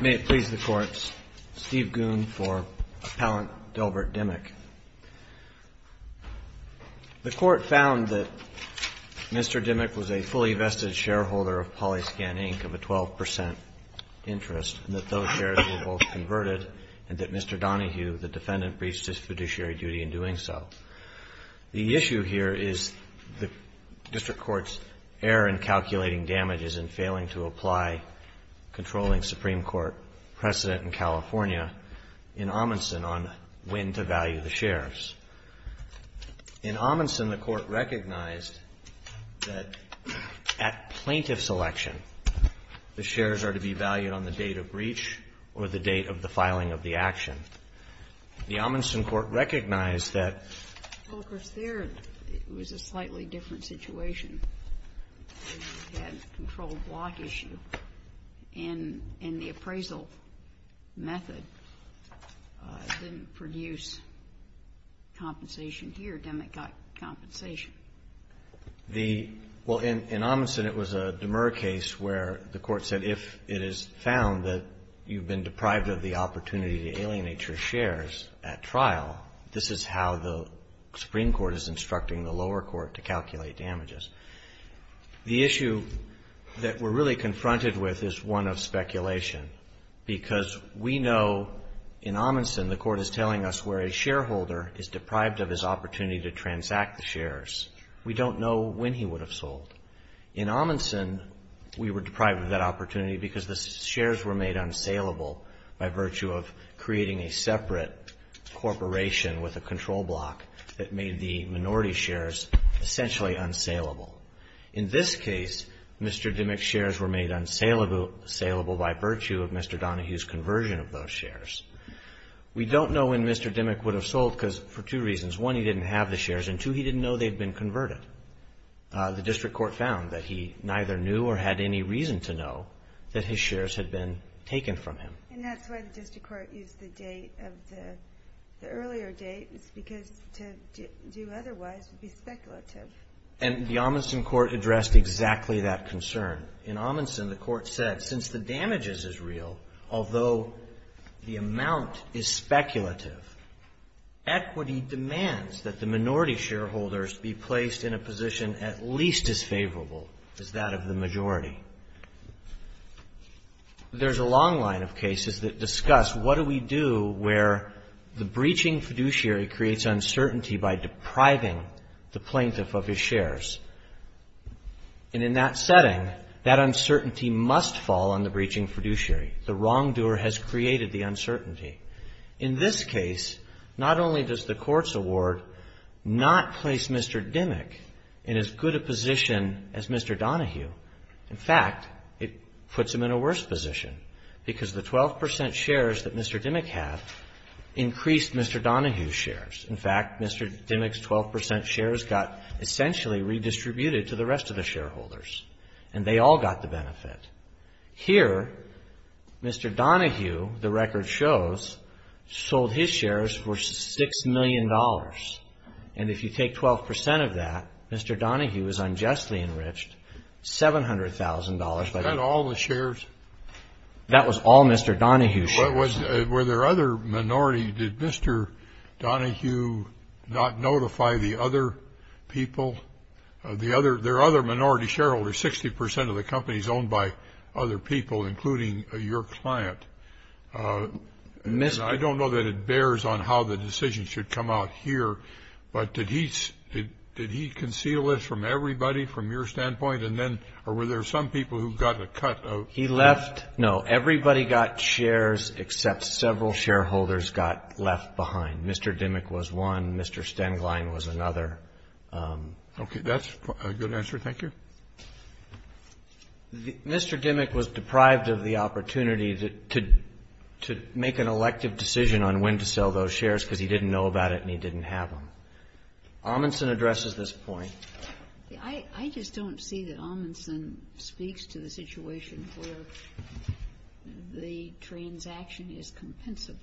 May it please the Court, Steve Goon for Appellant Delbert Dimick. The Court found that Mr. Dimick was a fully vested shareholder of PolyScan Inc. of a 12 percent interest, and that those shares were both converted, and that Mr. Donahue, the defendant, breached his fiduciary duty in doing so. The issue here is the District Court's error in calculating damages and failing to apply controlling Supreme Court precedent in California in Amundsen on when to value the shares. In Amundsen, the Court recognized that at plaintiff's election, the shares are to be valued on the date of breach or the date of the filing of the action. The Amundsen Court recognized that the plaintiff's claim that he had a controlled block issue in the appraisal method didn't produce compensation here. Dimick got compensation. The ---- Well, in Amundsen, it was a demer case where the Court said if it is found that you've been deprived of the opportunity to alienate your shares at trial, this is how the Supreme Court is instructing the lower court to calculate damages. The issue that we're really confronted with is one of speculation, because we know in Amundsen, the Court is telling us where a shareholder is deprived of his opportunity to transact the shares. We don't know when he would have sold. In Amundsen, we were deprived of that opportunity because the shares were made unsaleable by virtue of creating a separate corporation with a control block that made the minority shares essentially unsaleable. In this case, Mr. Dimick's shares were made unsaleable by virtue of Mr. Donohue's conversion of those shares. We don't know when Mr. Dimick would have sold because for two reasons. One, he didn't have the shares, and two, he didn't know they'd been converted. The district court found that he neither knew or had any reason to know that his shares had been taken from him. And that's why the district court used the date of the earlier date, because to do otherwise would be speculative. And the Amundsen court addressed exactly that concern. In Amundsen, the court said, since the damages is real, although the amount is speculative, equity demands that the minority shareholders be placed in a position at least as favorable as that of the majority. There's a long line of cases that discuss what do we do where the breaching fiduciary creates uncertainty by depriving the plaintiff of his shares. And in that setting, that uncertainty must fall on the breaching fiduciary. The wrongdoer has created the uncertainty. In this case, not only does the court's award not place Mr. Dimick in as good a position as Mr. Donohue, in fact, it puts him in a worse position because the 12 percent shares that Mr. Dimick had increased Mr. Donohue's shares. In fact, Mr. Dimick's 12 percent shares got essentially redistributed to the rest of the shareholders, and they all got the benefit. Here, Mr. Donohue, the record shows, sold his shares for $6 million. And if you take 12 percent of that, Mr. Donohue is unjustly enriched $700,000 by the court. That's all the shares? That was all Mr. Donohue's shares. Were there other minority, did Mr. Donohue not notify the other people? There are other minority shareholders, 60 percent of the company is owned by other people, including your client. I don't know that it bears on how the decision should come out here, but did he conceal this from everybody, from your standpoint? Or were there some people who got a cut? He left, no, everybody got shares except several shareholders got left behind. Mr. Dimick was one, Mr. Stenglein was another. Okay, that's a good answer. Thank you. Mr. Dimick was deprived of the opportunity to make an elective decision on when to sell those shares because he didn't know about it and he didn't have them. Amundsen addresses this point. I just don't see that Amundsen speaks to the situation where the transaction is compensable.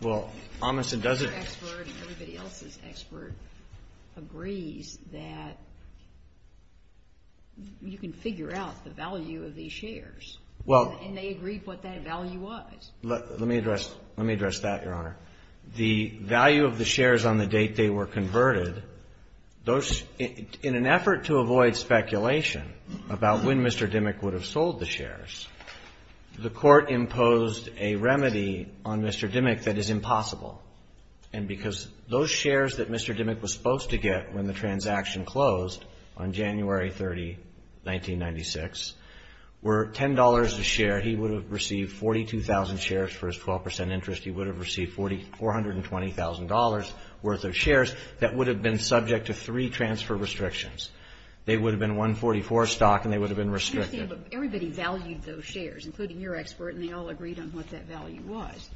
Well, Amundsen doesn't. Your expert and everybody else's expert agrees that you can figure out the value of these shares and they agreed what that value was. Let me address that, Your Honor. The value of the shares on the date they were converted, in an effort to avoid speculation about when Mr. Dimick would have sold the shares, the Court imposed a remedy on Mr. Dimick that is impossible. And because those shares that Mr. Dimick was supposed to get when the transaction closed on January 30, 1996, were $10 a share, he would have received 42,000 shares for his 12 percent interest. He would have received $420,000 worth of shares that would have been subject to three transfer restrictions. They would have been 144 stock and they would have been restricted. But everybody valued those shares, including your expert, and they all agreed on what that value was.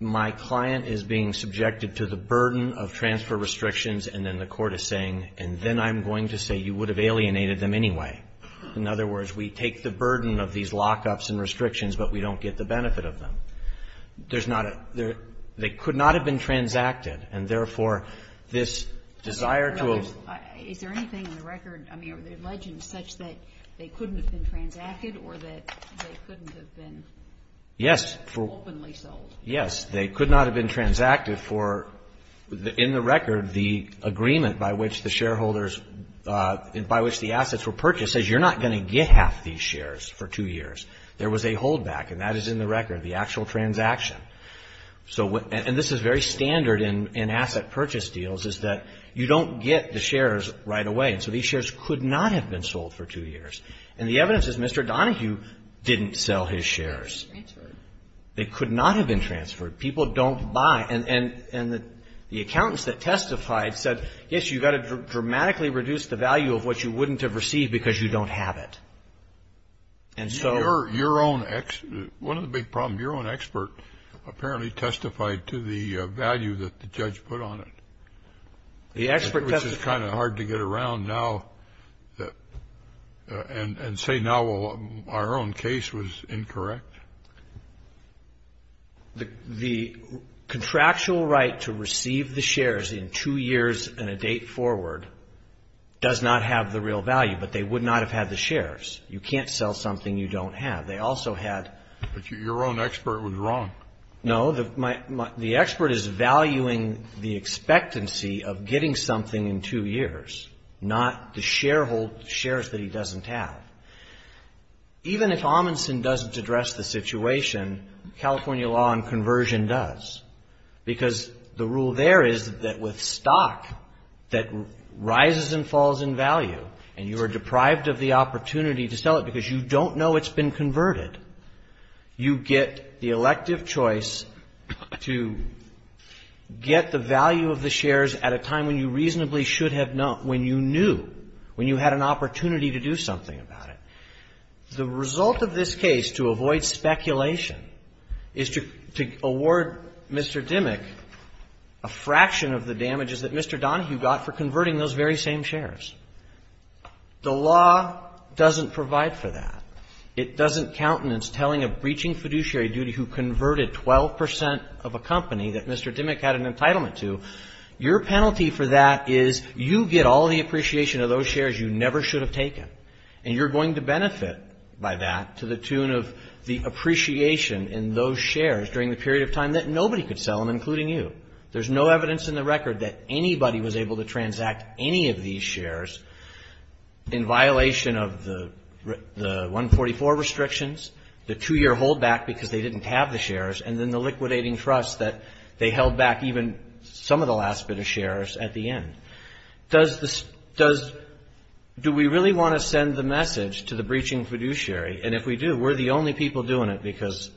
My client is being subjected to the burden of transfer restrictions and then the Court is saying, and then I'm going to say, you would have alienated them anyway. In other words, we have the restrictions but we don't get the benefit of them. They could not have been transacted and therefore this desire to have Is there anything in the record, I mean, are there legends such that they couldn't have been transacted or that they couldn't have been Yes, they could not have been transacted for, in the record, the agreement by which the shareholders, by which the assets were purchased says you're not going to get half these shares for two years. There was a holdback and that is in the record, the actual transaction. So what, and this is very standard in asset purchase deals is that you don't get the shares right away and so these shares could not have been sold for two years. And the evidence is Mr. Donohue didn't sell his shares. Transferred. They could not have been transferred. People don't buy and the accountants that testified said yes, you've got to dramatically reduce the value of what you wouldn't have received because you don't have it. And so Your own, one of the big problems, your own expert apparently testified to the value that the judge put on it. The expert testified Which is kind of hard to get around now and say now our own case was incorrect. The contractual right to receive the shares in two years and a date forward does not have the real value, but they would not have had the shares. You can't sell something you don't have. They also had But your own expert was wrong. No, the expert is valuing the expectancy of getting something in two years, not the sharehold shares that he doesn't have. Even if Amundsen doesn't address the situation, California law on conversion does because the rule there is that with stock that rises and falls in value and you are deprived of the opportunity to sell it because you don't know it's been converted, you get the elective choice to get the value of the shares at a time when you reasonably should have known, when you knew, when you had an opportunity to do something about it. The result of this case, to avoid speculation, is to award Mr. Dimmick a fraction of the damages that Mr. Donohue got for converting those very same shares. The law doesn't provide for that. It doesn't countenance telling a breaching fiduciary duty who converted 12 percent of a company that Mr. Dimmick had an entitlement to. Your penalty for that is you get all the appreciation of those shares you never should have taken, and you're going to benefit by that to the tune of the appreciation in those shares during the period of time that nobody could sell them, including you. There's no evidence in the record that anybody was able to transact any of these shares in violation of the 144 restrictions, the two-year holdback because they didn't have the shares, and then the liquidating trust that they held back even some of the last bit of shares at the end. Do we really want to send the message to the breaching fiduciary? And if we do, we're the only people doing it because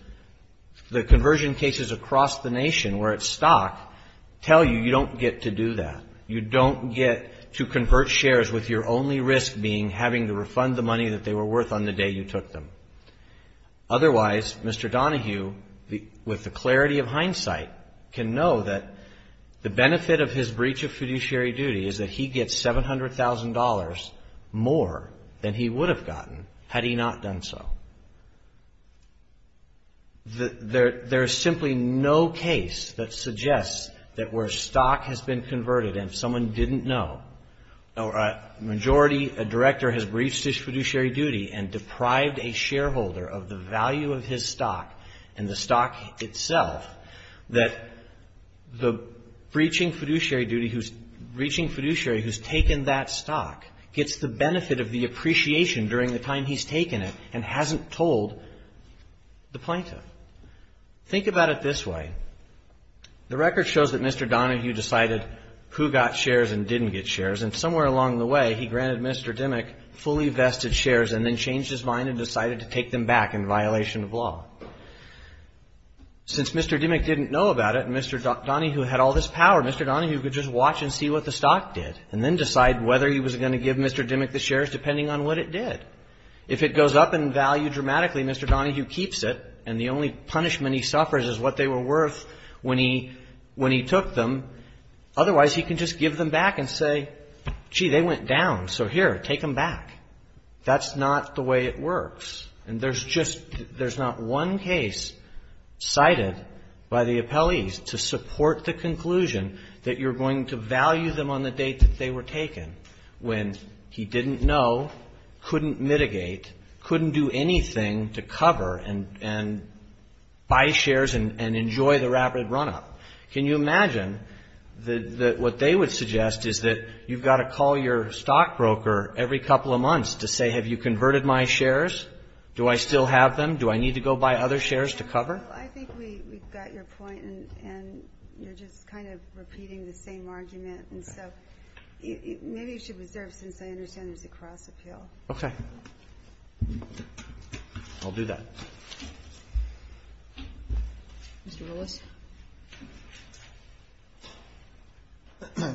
the conversion cases across the nation where it's stock tell you you don't get to do that. You don't get to convert shares with your only risk being having to refund the money that they were worth on the day you took them. Otherwise, Mr. Donohue, with the clarity of hindsight, can know that the benefit of his breach of fiduciary duty is that he gets $700,000 more than he would have gotten had he not done so. There is simply no case that suggests that where stock has been converted and someone didn't know, or a majority director has breached his fiduciary duty and deprived a shareholder of the value of his stock and the stock itself, that the breaching fiduciary who's taken that and hasn't told the plaintiff. Think about it this way. The record shows that Mr. Donohue decided who got shares and didn't get shares and somewhere along the way he granted Mr. Dimmick fully vested shares and then changed his mind and decided to take them back in violation of law. Since Mr. Dimmick didn't know about it and Mr. Donohue had all this power, Mr. Donohue could just watch and see what the stock did and then decide whether he was going to give Mr. Dimmick the shares depending on what it did. If it goes up in value dramatically, Mr. Donohue keeps it and the only punishment he suffers is what they were worth when he took them. Otherwise, he can just give them back and say, gee, they went down, so here, take them back. That's not the way it works. And there's just, there's not one case cited by the appellees to support the conclusion that you're going to value them on the date that they were taken when he didn't know, couldn't mitigate, couldn't do anything to cover and buy shares and enjoy the rapid run-up. Can you imagine that what they would suggest is that you've got to call your stockbroker every couple of months to say, have you converted my shares? Do I still have them? Do I need to go buy other shares to cover? Well, I think we've got your point, and you're just kind of repeating the same argument. And so maybe you should reserve, since I understand it's a cross-appeal. Okay. I'll do that. Mr. Willis.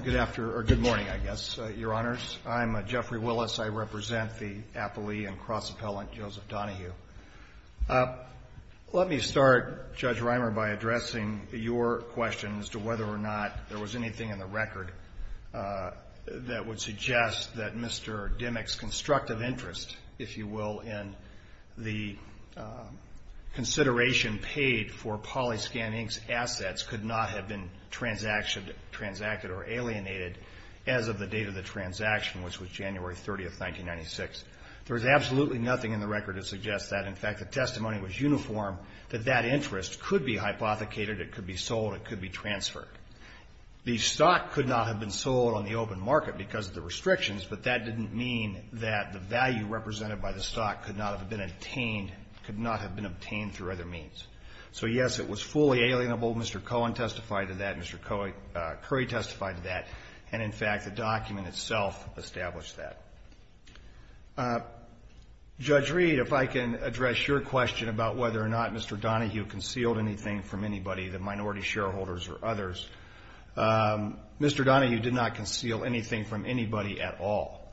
Good morning, I guess, Your Honors. I'm Jeffrey Willis. I represent the appellee and cross-appellant Joseph Donohue. Let me start, Judge Reimer, by addressing your question as to whether or not there was anything in the record that would suggest that Mr. Dimmock's constructive interest, if you will, in the consideration paid for Polyscan Inc.'s assets could not have been transacted or alienated as of the date of the transaction, which was absolutely nothing in the record to suggest that. In fact, the testimony was uniform that that interest could be hypothecated, it could be sold, it could be transferred. The stock could not have been sold on the open market because of the restrictions, but that didn't mean that the value represented by the stock could not have been obtained through other means. So, yes, it was fully alienable. Mr. Cohen testified to that. Mr. Curry testified to that. And, in fact, the document itself established that. Judge Reed, if I can address your question about whether or not Mr. Donohue concealed anything from anybody, the minority shareholders or others, Mr. Donohue did not conceal anything from anybody at all.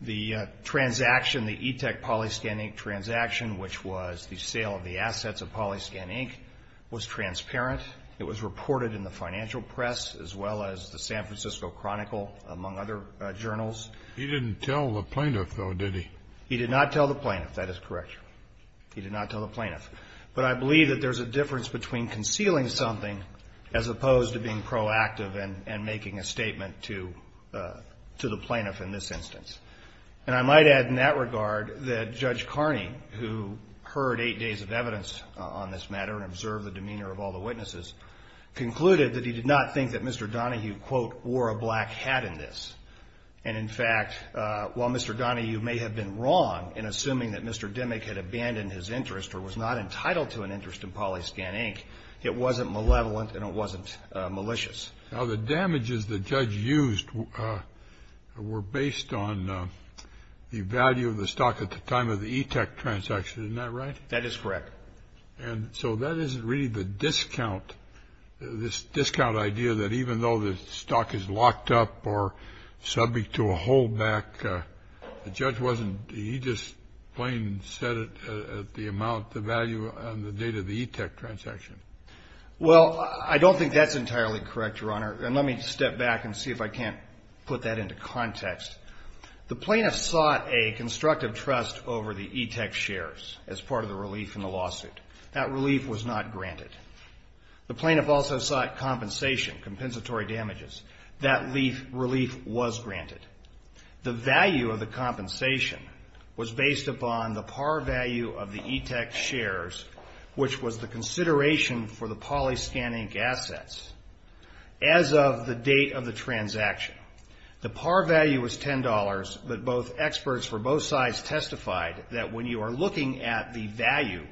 The transaction, the ETEC Polyscan Inc. transaction, which was the sale of the assets of Polyscan Inc., was transparent. It was reported in the financial press as well as the San Francisco Chronicle, among other journals. He didn't tell the plaintiff, though, did he? He did not tell the plaintiff. That is correct. He did not tell the plaintiff. But I believe that there's a difference between concealing something as opposed to being proactive and making a statement to the plaintiff in this instance. And I might add in that regard that Mr. Donohue did not, quote, wear a black hat in this. And, in fact, while Mr. Donohue may have been wrong in assuming that Mr. Dimmick had abandoned his interest or was not entitled to an interest in Polyscan Inc., it wasn't malevolent and it wasn't malicious. Now, the damages the judge used were based on the value of the stock at the time of the ETEC transaction. Isn't that right? That is correct. And so that isn't really the discount, this discount idea that even though the stock is locked up or subject to a holdback, the judge wasn't he just plain said it at the amount, the value and the date of the ETEC transaction. Well, I don't think that's entirely correct, Your Honor. And let me step back and see if I can't put that into context. The plaintiff sought a constructive trust over the ETEC shares as part of the relief in the lawsuit. That relief was not granted. The plaintiff also sought compensation, compensatory damages. That relief was granted. The value of the compensation was based upon the par value of the ETEC shares, which was the consideration for the Polyscan Inc. assets as of the date of the transaction. The par value was $10, but both experts for both sides testified that when you are looking at the value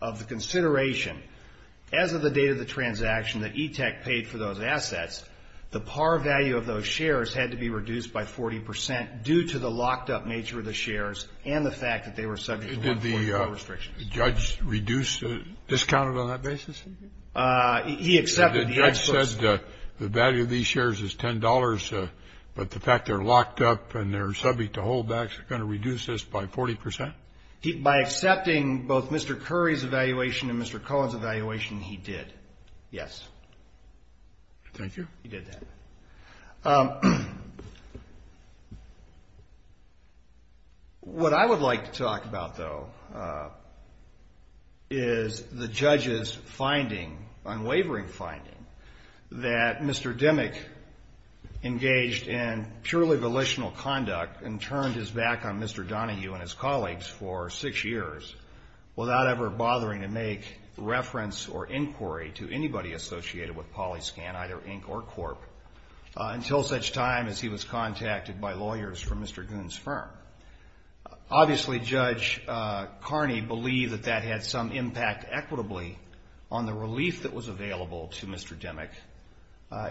of the consideration as of the date of the transaction that ETEC paid for those assets, the par value of those shares had to be reduced by 40 percent due to the locked-up nature of the shares and the fact that they were subject to 1.4 restrictions. Did the judge reduce the discount on that basis? He accepted the experts' The judge said the value of these shares is $10, but the fact they're locked-up and they're subject to hold-backs are going to reduce this by 40 percent? By accepting both Mr. Curry's evaluation and Mr. Cohen's evaluation, he did, yes. Thank you. He did that. What I would like to talk about, though, is the judge's finding, unwavering finding, that Mr. Demick engaged in purely volitional conduct and turned his back on Mr. Donahue and his colleagues for six years without ever bothering to make reference or inquiry to anybody associated with PolyScan, either Inc. or Corp., until such time as he was contacted by lawyers from Mr. Goon's firm. Obviously, Judge Carney believed that that had some impact equitably on the relief that was available to Mr. Demick.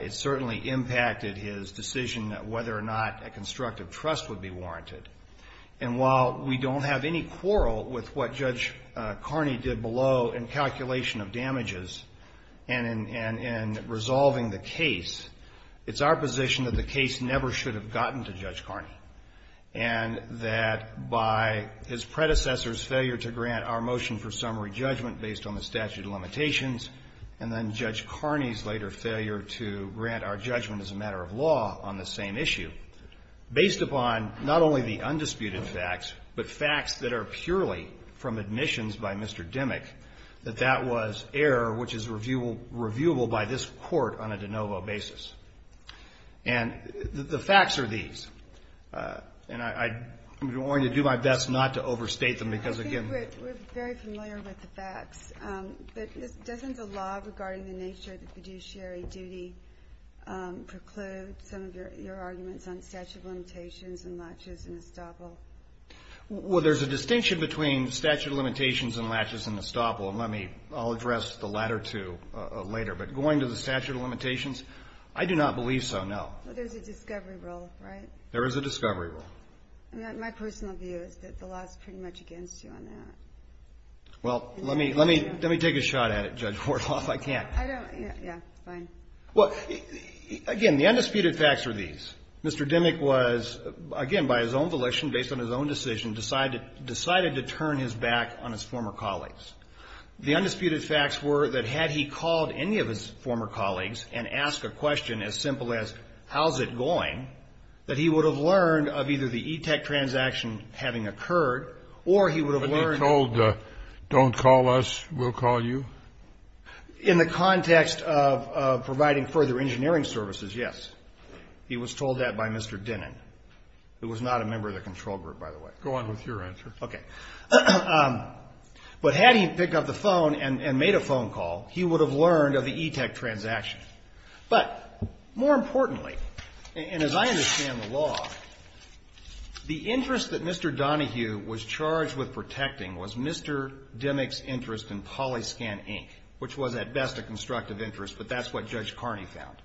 It certainly impacted his decision that whether or not a constructive trust would be warranted. And while we don't have any quarrel with what Judge Carney did below in calculation of damages and in resolving the case, it's our position that the case never should have gotten to Judge Carney and that by his predecessor's failure to grant our motion for summary judgment based on the statute of limitations, and then Judge Carney's later failure to grant our judgment as a matter of law on the same issue, based upon not only the undisputed facts, but facts that are purely from admissions by Mr. Demick, that that was error which is reviewable by this Court on a de novo basis. And the facts are these. And I'm going to do my best not to overstate them because, again — I think we're very familiar with the facts. But doesn't the law regarding the nature of the fiduciary duty preclude some of your arguments on statute of limitations and laches and estoppel? Well, there's a distinction between statute of limitations and laches and estoppel, and let me — I'll address the latter two later. But going to the statute of limitations, I do not believe so, no. But there's a discovery rule, right? There is a discovery rule. My personal view is that the law is pretty much against you on that. Well, let me — let me take a shot at it, Judge Wartoff. I can't. I don't — yeah, fine. Well, again, the undisputed facts are these. Mr. Dimmock was, again, by his own volition, based on his own decision, decided — decided to turn his back on his former colleagues. The undisputed facts were that had he called any of his former colleagues and asked a question as simple as, how's it going, that he would have learned of either the ETEC transaction having occurred or he would have learned — But he told, don't call us, we'll call you? In the context of providing further engineering services, yes. He was told that by Mr. Dinnan, who was not a member of the control group, by the way. Go on with your answer. Okay. But had he picked up the phone and made a phone call, he would have learned of the ETEC transaction. But more importantly, and as I understand the law, the interest that Mr. Donohue was charged with protecting was Mr. Dimmock's interest in PolyScan Inc., which was at best a constructive interest, but that's what Judge Carney found.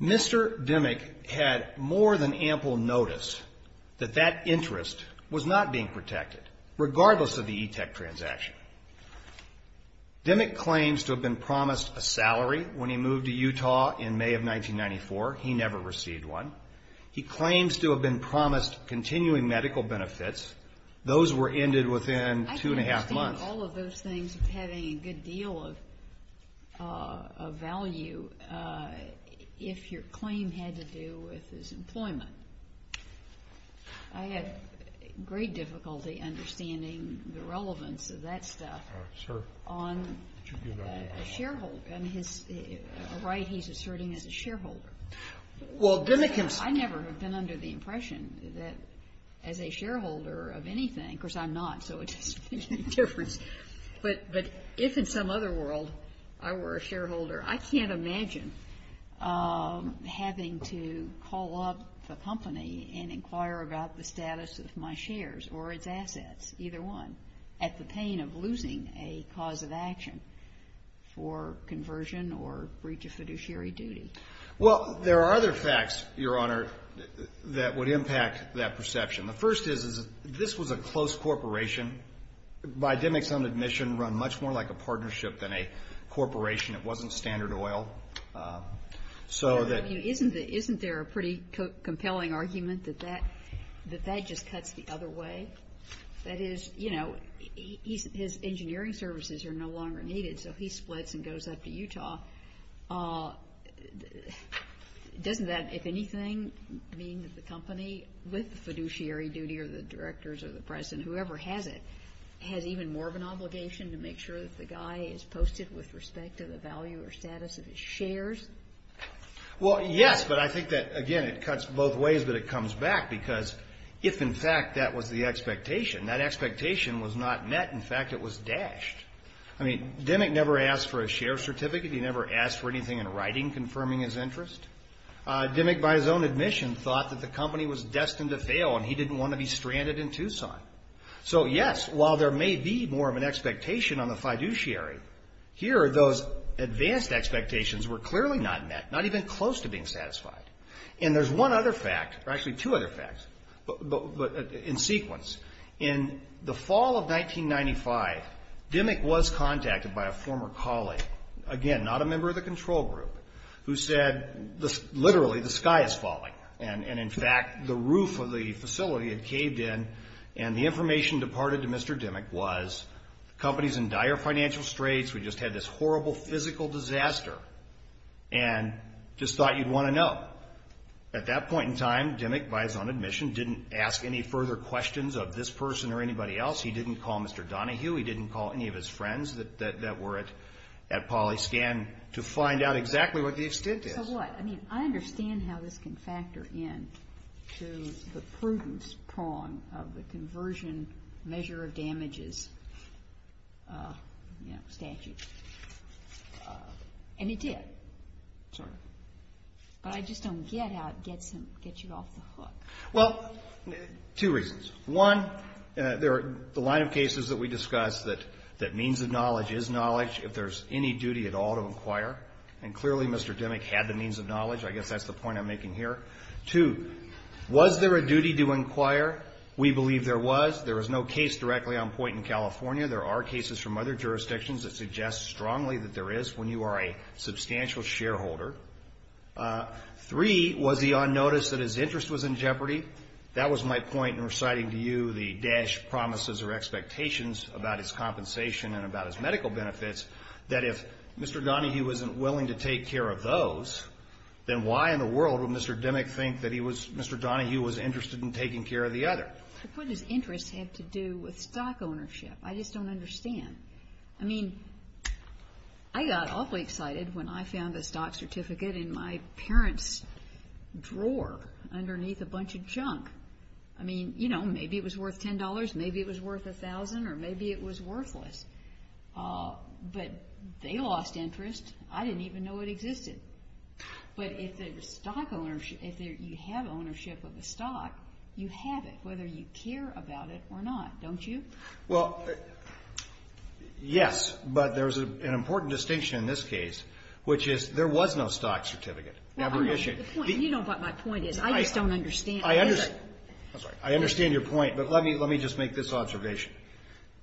Mr. Dimmock had more than ample notice that that interest was not being protected, regardless of the ETEC transaction. Dimmock claims to have been promised a salary when he moved to Utah in May of 1994. He never received one. He claims to have been promised continuing medical benefits. Those were ended within two and a half months. I can understand all of those things having a good deal of value if your claim had to do with his employment. I have great difficulty understanding the relevance of that stuff on a shareholder, a right he's asserting as a shareholder. I never have been under the impression that as a shareholder of anything, of course I'm not, so it doesn't make any difference, but if in some other world I were a shareholder, I can't imagine having to call up the company and inquire about the status of my shares or its assets, either one, at the pain of losing a cause of action for conversion or breach of fiduciary duty. Well, there are other facts, Your Honor, that would impact that perception. The first is this was a close corporation. By Dimmock's own admission, run much more like a partnership than a corporation. It wasn't Standard Oil. Isn't there a pretty compelling argument that that just cuts the other way? That is, you know, his engineering services are no longer needed, so he splits and goes up to Utah. Doesn't that, if anything, mean that the company, with the fiduciary duty or the directors or the president, whoever has it, has even more of an obligation to make sure that the guy is posted with respect to the value or status of his shares? Well, yes, but I think that, again, it cuts both ways, but it comes back, because if, in fact, that was the expectation, that expectation was not met. In fact, it was dashed. I mean, Dimmock never asked for a share certificate. He never asked for anything in writing confirming his interest. Dimmock, by his own admission, thought that the company was destined to fail, and he didn't want to be stranded in Tucson. So, yes, while there may be more of an expectation on the fiduciary, here those advanced expectations were clearly not met, not even close to being satisfied. And there's one other fact, or actually two other facts in sequence. In the fall of 1995, Dimmock was contacted by a former colleague, again, not a member of the control group, who said, literally, the sky is falling. And, in fact, the roof of the facility had caved in, and the information departed to Mr. Dimmock was the company is in dire financial straits. We just had this horrible physical disaster, and just thought you'd want to know. At that point in time, Dimmock, by his own admission, didn't ask any further questions of this person or anybody else. He didn't call Mr. Donahue. He didn't call any of his friends that were at PolyScan to find out exactly what the extent is. So what? I mean, I understand how this can factor in to the prudence prong of the conversion measure of damages statute. And it did, sort of. But I just don't get how it gets you off the hook. Well, two reasons. One, the line of cases that we discussed that means of knowledge is knowledge if there's any duty at all to inquire. And, clearly, Mr. Dimmock had the means of knowledge. I guess that's the point I'm making here. Two, was there a duty to inquire? We believe there was. There was no case directly on point in California. There are cases from other jurisdictions that suggest strongly that there is when you are a substantial shareholder. Three, was he on notice that his interest was in jeopardy? That was my point in reciting to you the dash promises or expectations about his compensation and about his medical benefits that if Mr. Donahue wasn't willing to take care of those, then why in the world would Mr. Dimmock think that Mr. Donahue was interested in taking care of the other? What does interest have to do with stock ownership? I just don't understand. I mean, I got awfully excited when I found a stock certificate in my parents' drawer underneath a bunch of junk. I mean, you know, maybe it was worth $10, maybe it was worth $1,000, or maybe it was worthless. But they lost interest. I didn't even know it existed. But if you have ownership of a stock, you have it, whether you care about it or not, don't you? Well, yes, but there's an important distinction in this case, which is there was no stock certificate. You know what my point is. I just don't understand. I understand. I'm sorry. I understand your point, but let me just make this observation.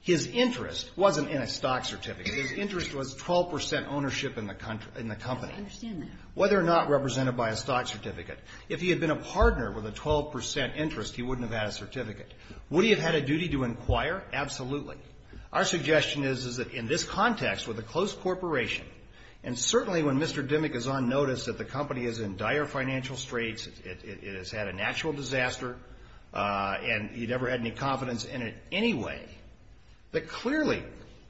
His interest wasn't in a stock certificate. His interest was 12 percent ownership in the company. I understand that. Whether or not represented by a stock certificate, if he had been a partner with a 12 percent interest, he wouldn't have had a certificate. Would he have had a duty to inquire? Absolutely. Our suggestion is that in this context with a close corporation, and certainly when Mr. Dimmick is on notice that the company is in dire financial straits, it has had a natural disaster, and he never had any confidence in it anyway, that clearly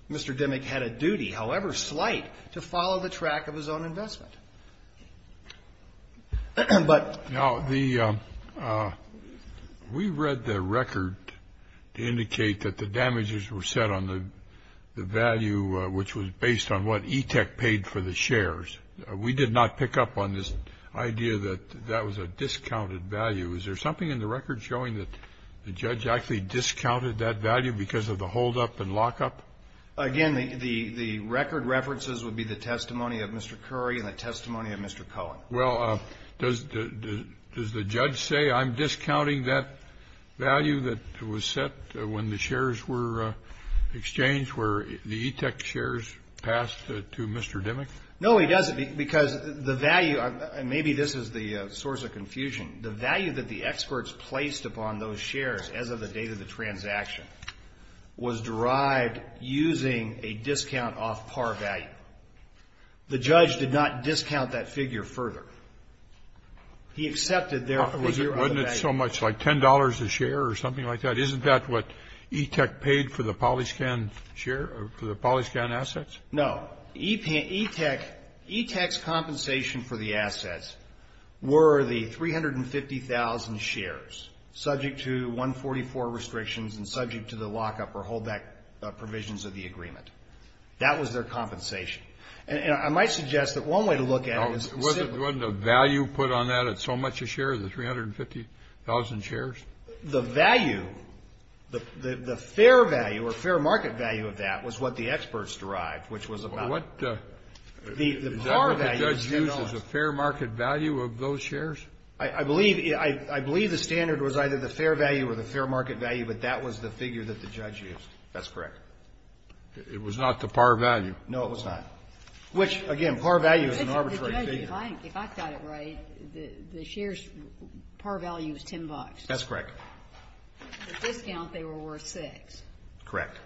Mr. Dimmick had a duty, however slight, to follow the track of his own investment. Now, we read the record to indicate that the damages were set on the value, which was based on what ETEC paid for the shares. We did not pick up on this idea that that was a discounted value. Is there something in the record showing that the judge actually discounted that value because of the holdup and lockup? Again, the record references would be the testimony of Mr. Curry and the testimony of Mr. Cohen. Well, does the judge say, I'm discounting that value that was set when the shares were exchanged, where the ETEC shares passed to Mr. Dimmick? No, he doesn't, because the value, and maybe this is the source of confusion, the value that the experts placed upon those shares as of the date of the transaction was derived using a discount off par value. The judge did not discount that figure further. He accepted their figure of the value. Wasn't it so much like $10 a share or something like that? Isn't that what ETEC paid for the Polyscan share, for the Polyscan assets? No. ETEC's compensation for the assets were the 350,000 shares, subject to 144 restrictions and subject to the lockup or holdback provisions of the agreement. That was their compensation. And I might suggest that one way to look at it is to say that Wasn't the value put on that at so much a share, the 350,000 shares? The value, the fair value or fair market value of that was what the experts derived, which was about Is that what the judge used, a fair market value of those shares? I believe the standard was either the fair value or the fair market value, but that was the figure that the judge used. That's correct. It was not the par value. No, it was not. Which, again, par value is an arbitrary figure. If I got it right, the shares' par value was $10. That's correct. The discount, they were worth $6. Correct.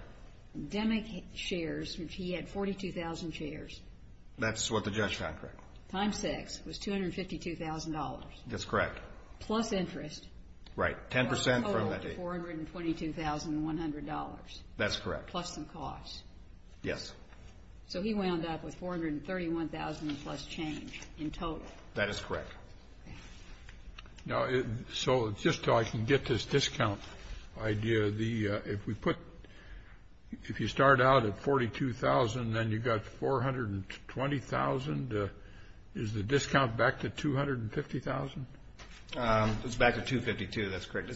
Demick shares, which he had 42,000 shares. That's what the judge found, correct. Times 6 was $252,000. That's correct. Plus interest. Right, 10% from that date. A total of $422,100. That's correct. Plus some costs. Yes. So he wound up with $431,000 plus change in total. That is correct. So just so I can get this discount idea, if you start out at $42,000, then you've got $420,000, is the discount back to $250,000? It's back to $252,000, that's correct.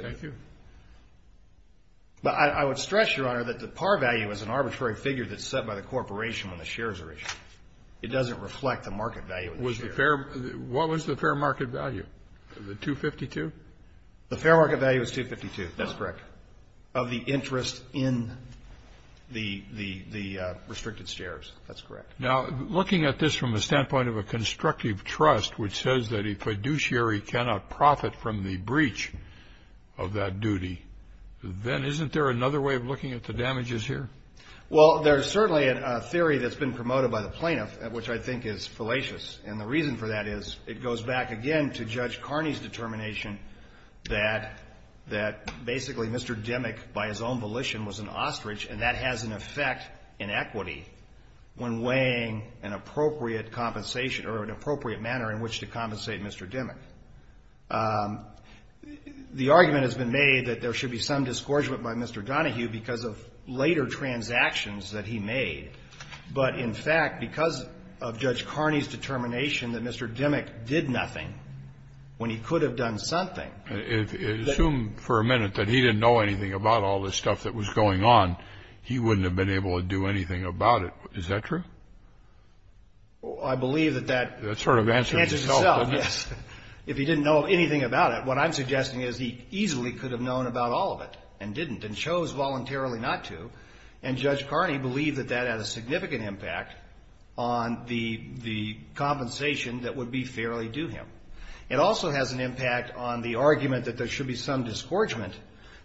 Thank you. I would stress, Your Honor, that the par value is an arbitrary figure that's set by the corporation when the shares are issued. It doesn't reflect the market value of the share. What was the fair market value? Was it $252,000? The fair market value was $252,000. That's correct. Of the interest in the restricted shares. That's correct. Now, looking at this from the standpoint of a constructive trust, which says that a fiduciary cannot profit from the breach of that duty, then isn't there another way of looking at the damages here? Well, there's certainly a theory that's been promoted by the plaintiff, which I think is fallacious, and the reason for that is it goes back, again, to Judge Carney's determination that basically Mr. Demick, by his own volition, was an ostrich, and that has an effect in equity when weighing an appropriate compensation or an appropriate manner in which to compensate Mr. Demick. The argument has been made that there should be some disgorgement by Mr. Donohue because of later transactions that he made, but in fact because of Judge Carney's determination that Mr. Demick did nothing when he could have done something. Assume for a minute that he didn't know anything about all this stuff that was going on. He wouldn't have been able to do anything about it. Is that true? I believe that that sort of answers itself, yes. If he didn't know anything about it, what I'm suggesting is he easily could have known about all of it and didn't and chose voluntarily not to, and Judge Carney believed that that had a significant impact on the compensation that would be fairly due him. It also has an impact on the argument that there should be some disgorgement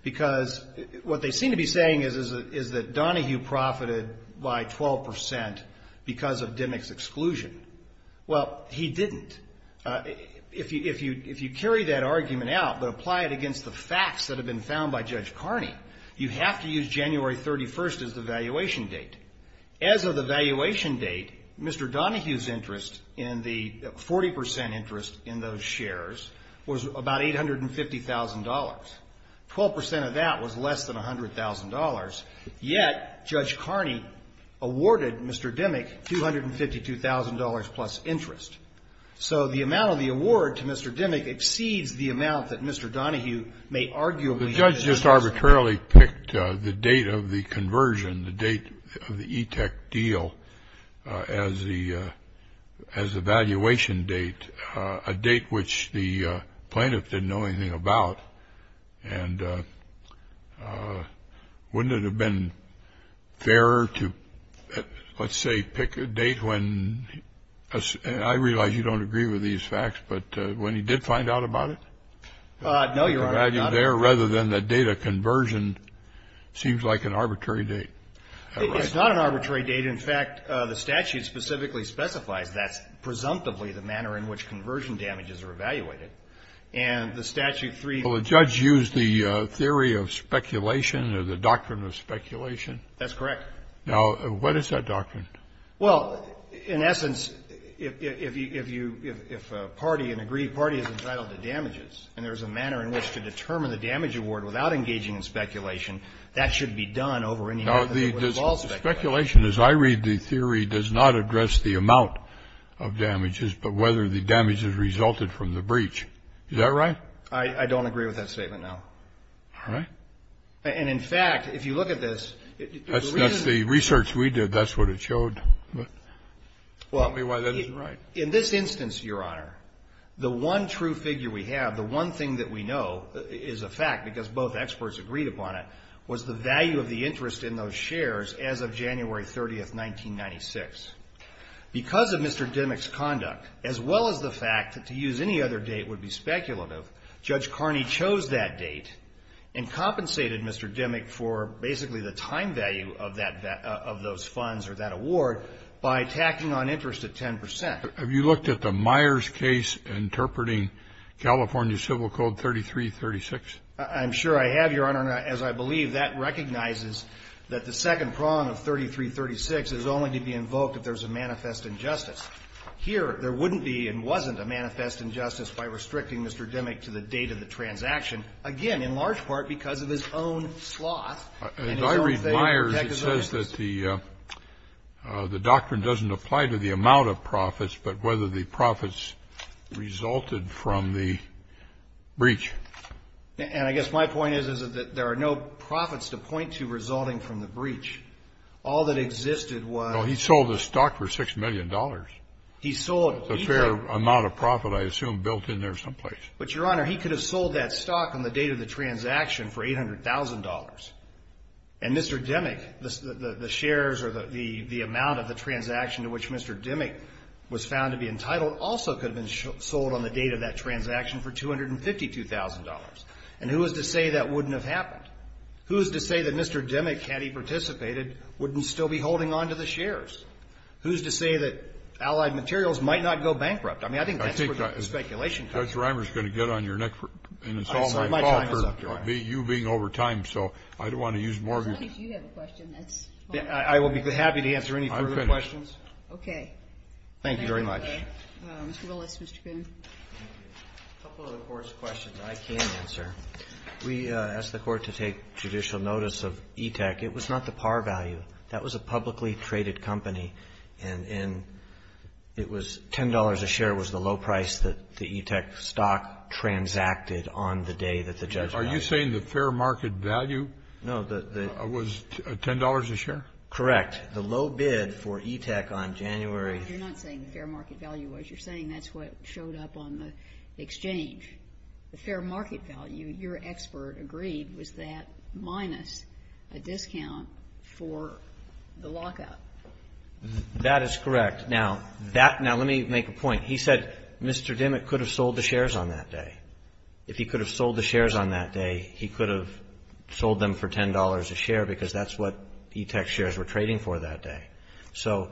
because what they seem to be saying is that Donohue profited by 12% because of Demick's exclusion. Well, he didn't. If you carry that argument out but apply it against the facts that have been found by Judge Carney, you have to use January 31st as the valuation date. As of the valuation date, Mr. Donohue's interest in the 40% interest in those shares was about $850,000. Twelve percent of that was less than $100,000, yet Judge Carney awarded Mr. Demick $252,000 plus interest. So the amount of the award to Mr. Demick exceeds the amount that Mr. Donohue may arguably have. The judge just arbitrarily picked the date of the conversion, the date of the ETEC deal as the valuation date, a date which the plaintiff didn't know anything about. And wouldn't it have been fairer to, let's say, pick a date when I realize you don't agree with these facts, but when he did find out about it? No, Your Honor. Rather than the date of conversion seems like an arbitrary date. It's not an arbitrary date. But, in fact, the statute specifically specifies that's presumptively the manner in which conversion damages are evaluated. And the statute 3. Well, the judge used the theory of speculation or the doctrine of speculation. That's correct. Now, what is that doctrine? Well, in essence, if you, if a party, an aggrieved party is entitled to damages and there's a manner in which to determine the damage award without engaging in speculation, that should be done over any method that would involve speculation. Speculation, as I read the theory, does not address the amount of damages, but whether the damages resulted from the breach. Is that right? I don't agree with that statement, no. All right. And, in fact, if you look at this. That's the research we did. That's what it showed. Tell me why that isn't right. In this instance, Your Honor, the one true figure we have, the one thing that we know is a fact, because both experts agreed upon it, was the value of the interest in those shares as of January 30th, 1996. Because of Mr. Dimmock's conduct, as well as the fact that to use any other date would be speculative, Judge Carney chose that date and compensated Mr. Dimmock for basically the time value of that, of those funds or that award by tacking on interest at 10%. Have you looked at the Myers case interpreting California Civil Code 3336? I'm sure I have, Your Honor. And, as I believe, that recognizes that the second prong of 3336 is only to be invoked if there's a manifest injustice. Here, there wouldn't be and wasn't a manifest injustice by restricting Mr. Dimmock to the date of the transaction, again, in large part because of his own sloth and his own favor and negligence. He says that the doctrine doesn't apply to the amount of profits, but whether the profits resulted from the breach. And I guess my point is, is that there are no profits to point to resulting from the breach. All that existed was — No, he sold the stock for $6 million. He sold — A fair amount of profit, I assume, built in there someplace. But, Your Honor, he could have sold that stock on the date of the transaction for $800,000. And Mr. Dimmock, the shares or the amount of the transaction to which Mr. Dimmock was found to be entitled, also could have been sold on the date of that transaction for $252,000. And who is to say that wouldn't have happened? Who is to say that Mr. Dimmock, had he participated, wouldn't still be holding on to the shares? Who is to say that Allied Materials might not go bankrupt? I mean, I think that's where the speculation comes from. Judge Reimer is going to get on your neck for installing my fault for you being over time. So I don't want to use more of your time. As long as you have a question, that's fine. I will be happy to answer any further questions. I'm finished. Okay. Thank you very much. Mr. Willis, Mr. Coon. A couple of the Court's questions I can answer. We asked the Court to take judicial notice of ETEC. It was not the par value. That was a publicly traded company. And it was $10 a share was the low price that the ETEC stock transacted on the day that the judge got it. Are you saying the fair market value was $10 a share? Correct. The low bid for ETEC on January. You're not saying the fair market value was. You're saying that's what showed up on the exchange. The fair market value, your expert agreed, was that minus a discount for the lockout. That is correct. Now, let me make a point. He said Mr. Dimmick could have sold the shares on that day. If he could have sold the shares on that day, he could have sold them for $10 a share because that's what ETEC shares were trading for that day. So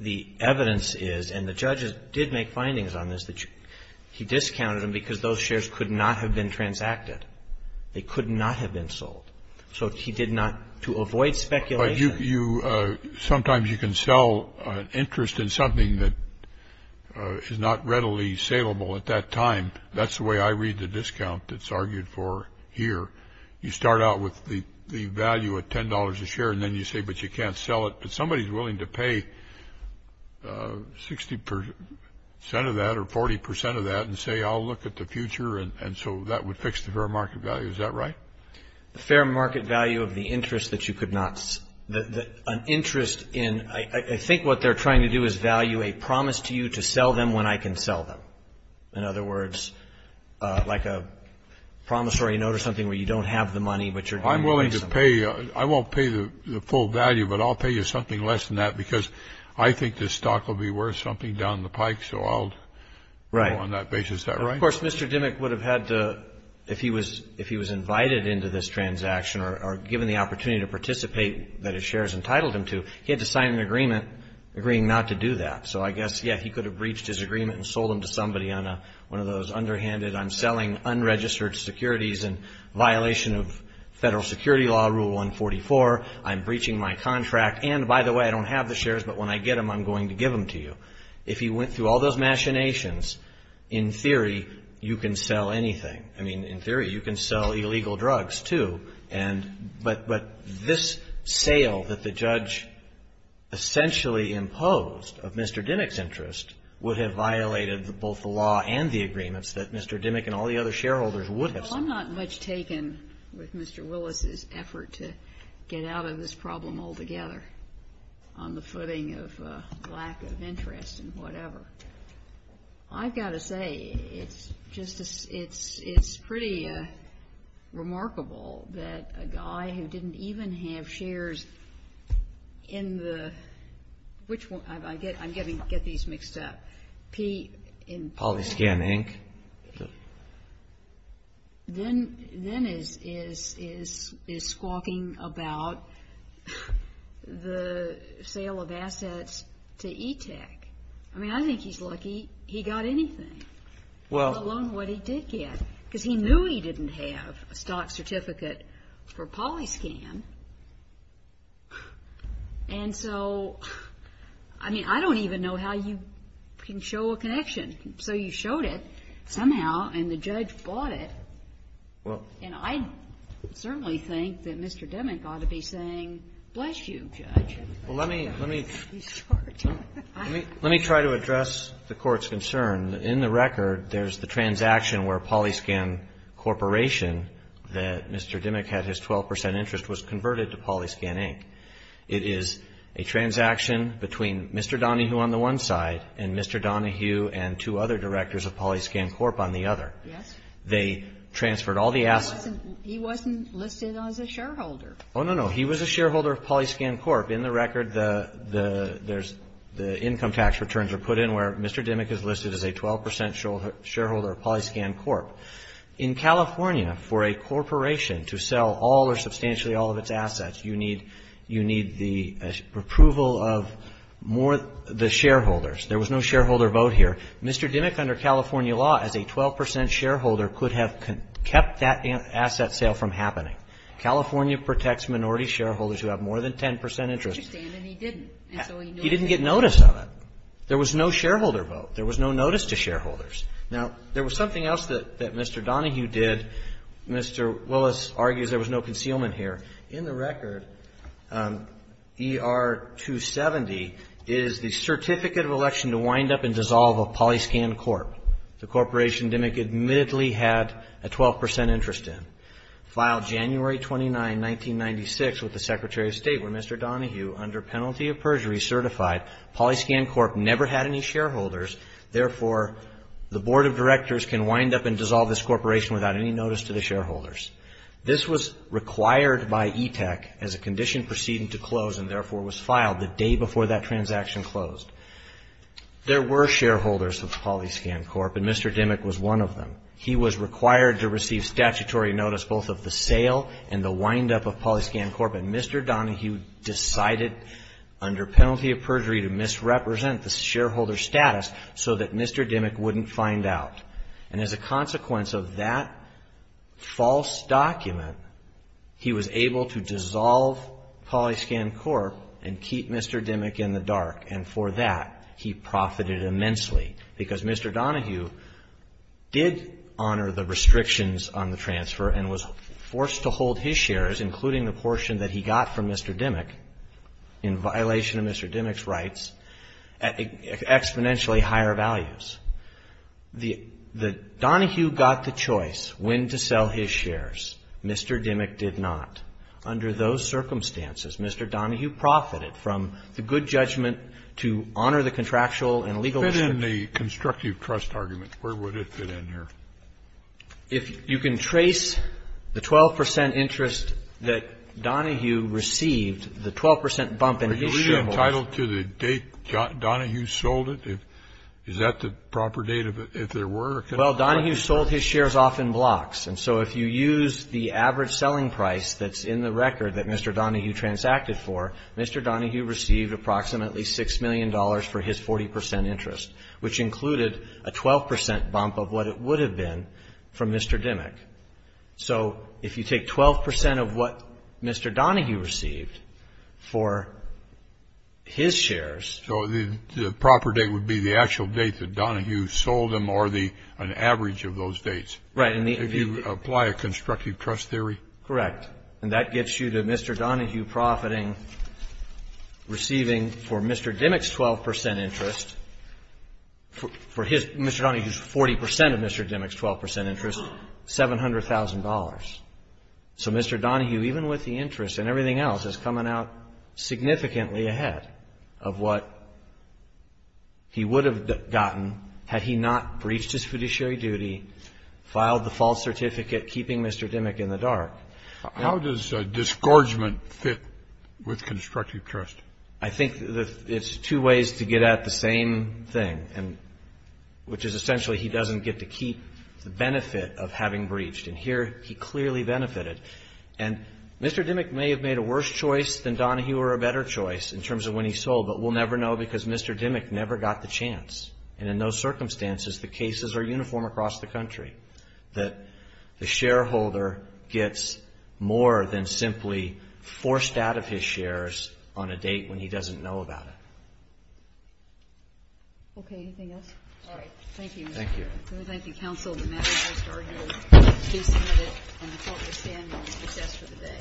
the evidence is, and the judge did make findings on this, that he discounted them because those shares could not have been transacted. They could not have been sold. So he did not, to avoid speculation. But sometimes you can sell an interest in something that is not readily saleable at that time. That's the way I read the discount that's argued for here. You start out with the value at $10 a share, and then you say, but you can't sell it. But somebody is willing to pay 60% of that or 40% of that and say, I'll look at the future, and so that would fix the fair market value. Is that right? Fair market value of the interest that you could not see. An interest in, I think what they're trying to do is value a promise to you to sell them when I can sell them. In other words, like a promissory note or something where you don't have the money, but you're willing to pay. I'm willing to pay. I won't pay the full value, but I'll pay you something less than that because I think the stock will be worth something down the pike, so I'll go on that basis. Is that right? Of course, Mr. Dimmick would have had to, if he was invited into this transaction or given the opportunity to participate that his shares entitled him to, he had to sign an agreement agreeing not to do that. So I guess, yeah, he could have breached his agreement and sold them to somebody on one of those underhanded, I'm selling unregistered securities in violation of federal security law, Rule 144. I'm breaching my contract, and by the way, I don't have the shares, but when I get them, I'm going to give them to you. If he went through all those machinations, in theory, you can sell anything. I mean, in theory, you can sell illegal drugs, too. But this sale that the judge essentially imposed of Mr. Dimmick's interest would have violated both the law and the agreements that Mr. Dimmick and all the other shareholders would have signed. I'm not much taken with Mr. Willis's effort to get out of this problem altogether, on the footing of lack of interest and whatever. I've got to say, it's pretty remarkable that a guy who didn't even have shares in the — which one? I'm getting these mixed up. Polyscan, Inc.? Then is squawking about the sale of assets to E-Tech. I mean, I think he's lucky he got anything, let alone what he did get, because he knew he didn't have a stock certificate for Polyscan. And so, I mean, I don't even know how you can show a connection. So you showed it somehow, and the judge bought it. And I certainly think that Mr. Dimmick ought to be saying, bless you, Judge. Well, let me — let me try to address the Court's concern. In the record, there's the transaction where Polyscan Corporation, that Mr. Dimmick had his 12 percent interest, was converted to Polyscan, Inc. It is a transaction between Mr. Donohue on the one side and Mr. Donohue and two other directors of Polyscan Corp. on the other. Yes. They transferred all the assets. He wasn't listed as a shareholder. Oh, no, no. He was a shareholder of Polyscan Corp. In the record, the income tax returns are put in where Mr. Dimmick is listed as a 12 percent shareholder of Polyscan Corp. In California, for a corporation to sell all or substantially all of its assets, you need — you need the approval of more — the shareholders. There was no shareholder vote here. Mr. Dimmick, under California law, as a 12 percent shareholder, could have kept that asset sale from happening. California protects minority shareholders who have more than 10 percent interest. And he didn't. He didn't get notice of it. There was no shareholder vote. There was no notice to shareholders. Now, there was something else that Mr. Donohue did. Mr. Willis argues there was no concealment here. In the record, ER-270 is the certificate of election to wind up and dissolve a Polyscan Corp. The corporation Dimmick admittedly had a 12 percent interest in. Filed January 29, 1996, with the Secretary of State, where Mr. Donohue, under penalty of perjury, certified Polyscan Corp. never had any shareholders. Therefore, the Board of Directors can wind up and dissolve this corporation without any notice to the shareholders. This was required by E-Tech as a condition proceeding to close and therefore was filed the day before that transaction closed. There were shareholders of Polyscan Corp., and Mr. Dimmick was one of them. He was required to receive statutory notice both of the sale and the windup of Polyscan Corp., and Mr. Donohue decided under penalty of perjury to misrepresent the shareholder status so that Mr. Dimmick wouldn't find out. And as a consequence of that false document, he was able to dissolve Polyscan Corp. and keep Mr. Dimmick in the dark, and for that, he profited immensely because Mr. Donohue did honor the restrictions on the transfer and was forced to hold his shares, including the portion that he got from Mr. Dimmick, in violation of Mr. Dimmick's rights, at exponentially higher values. Donohue got the choice when to sell his shares. Mr. Dimmick did not. Under those circumstances, Mr. Donohue profited from the good judgment to honor the contractual and legal district. Kennedy Fit in the constructive trust argument, where would it fit in here? If you can trace the 12 percent interest that Donohue received, the 12 percent bump in his shareholders' Were you entitled to the date Donohue sold it? Is that the proper date if there were a credit? Well, Donohue sold his shares off in blocks. And so if you use the average selling price that's in the record that Mr. Donohue transacted for, Mr. Donohue received approximately six million dollars for his 40 percent interest, which included a 12 percent bump of what it would have been for Mr. Dimmock. So if you take 12 percent of what Mr. Donohue received for his shares So the proper date would be the actual date that Donohue sold them or an average of those dates? Right. If you apply a constructive trust theory? Correct. And that gets you to Mr. Donohue profiting, receiving for Mr. Dimmock's 12 percent interest, for his Mr. Donohue's 40 percent of Mr. Dimmock's 12 percent interest, $700,000. So Mr. Donohue, even with the interest and everything else, is coming out significantly ahead of what he would have gotten had he not breached his fiduciary duty, filed the false certificate, keeping Mr. Dimmock in the dark. How does disgorgement fit with constructive trust? I think it's two ways to get at the same thing, which is essentially he doesn't get to keep the benefit of having breached. And here he clearly benefited. And Mr. Dimmock may have made a worse choice than Donohue or a better choice in terms of when he sold, but we'll never know because Mr. Dimmock never got the chance. And in those circumstances, the cases are uniform across the country, that the shareholder gets more than simply forced out of his shares on a date when he doesn't know about it. Okay. Anything else? All right. Thank you. Thank you. Let me thank the counsel. The matter has been argued. The case is submitted. And the court will stand as it does for the day.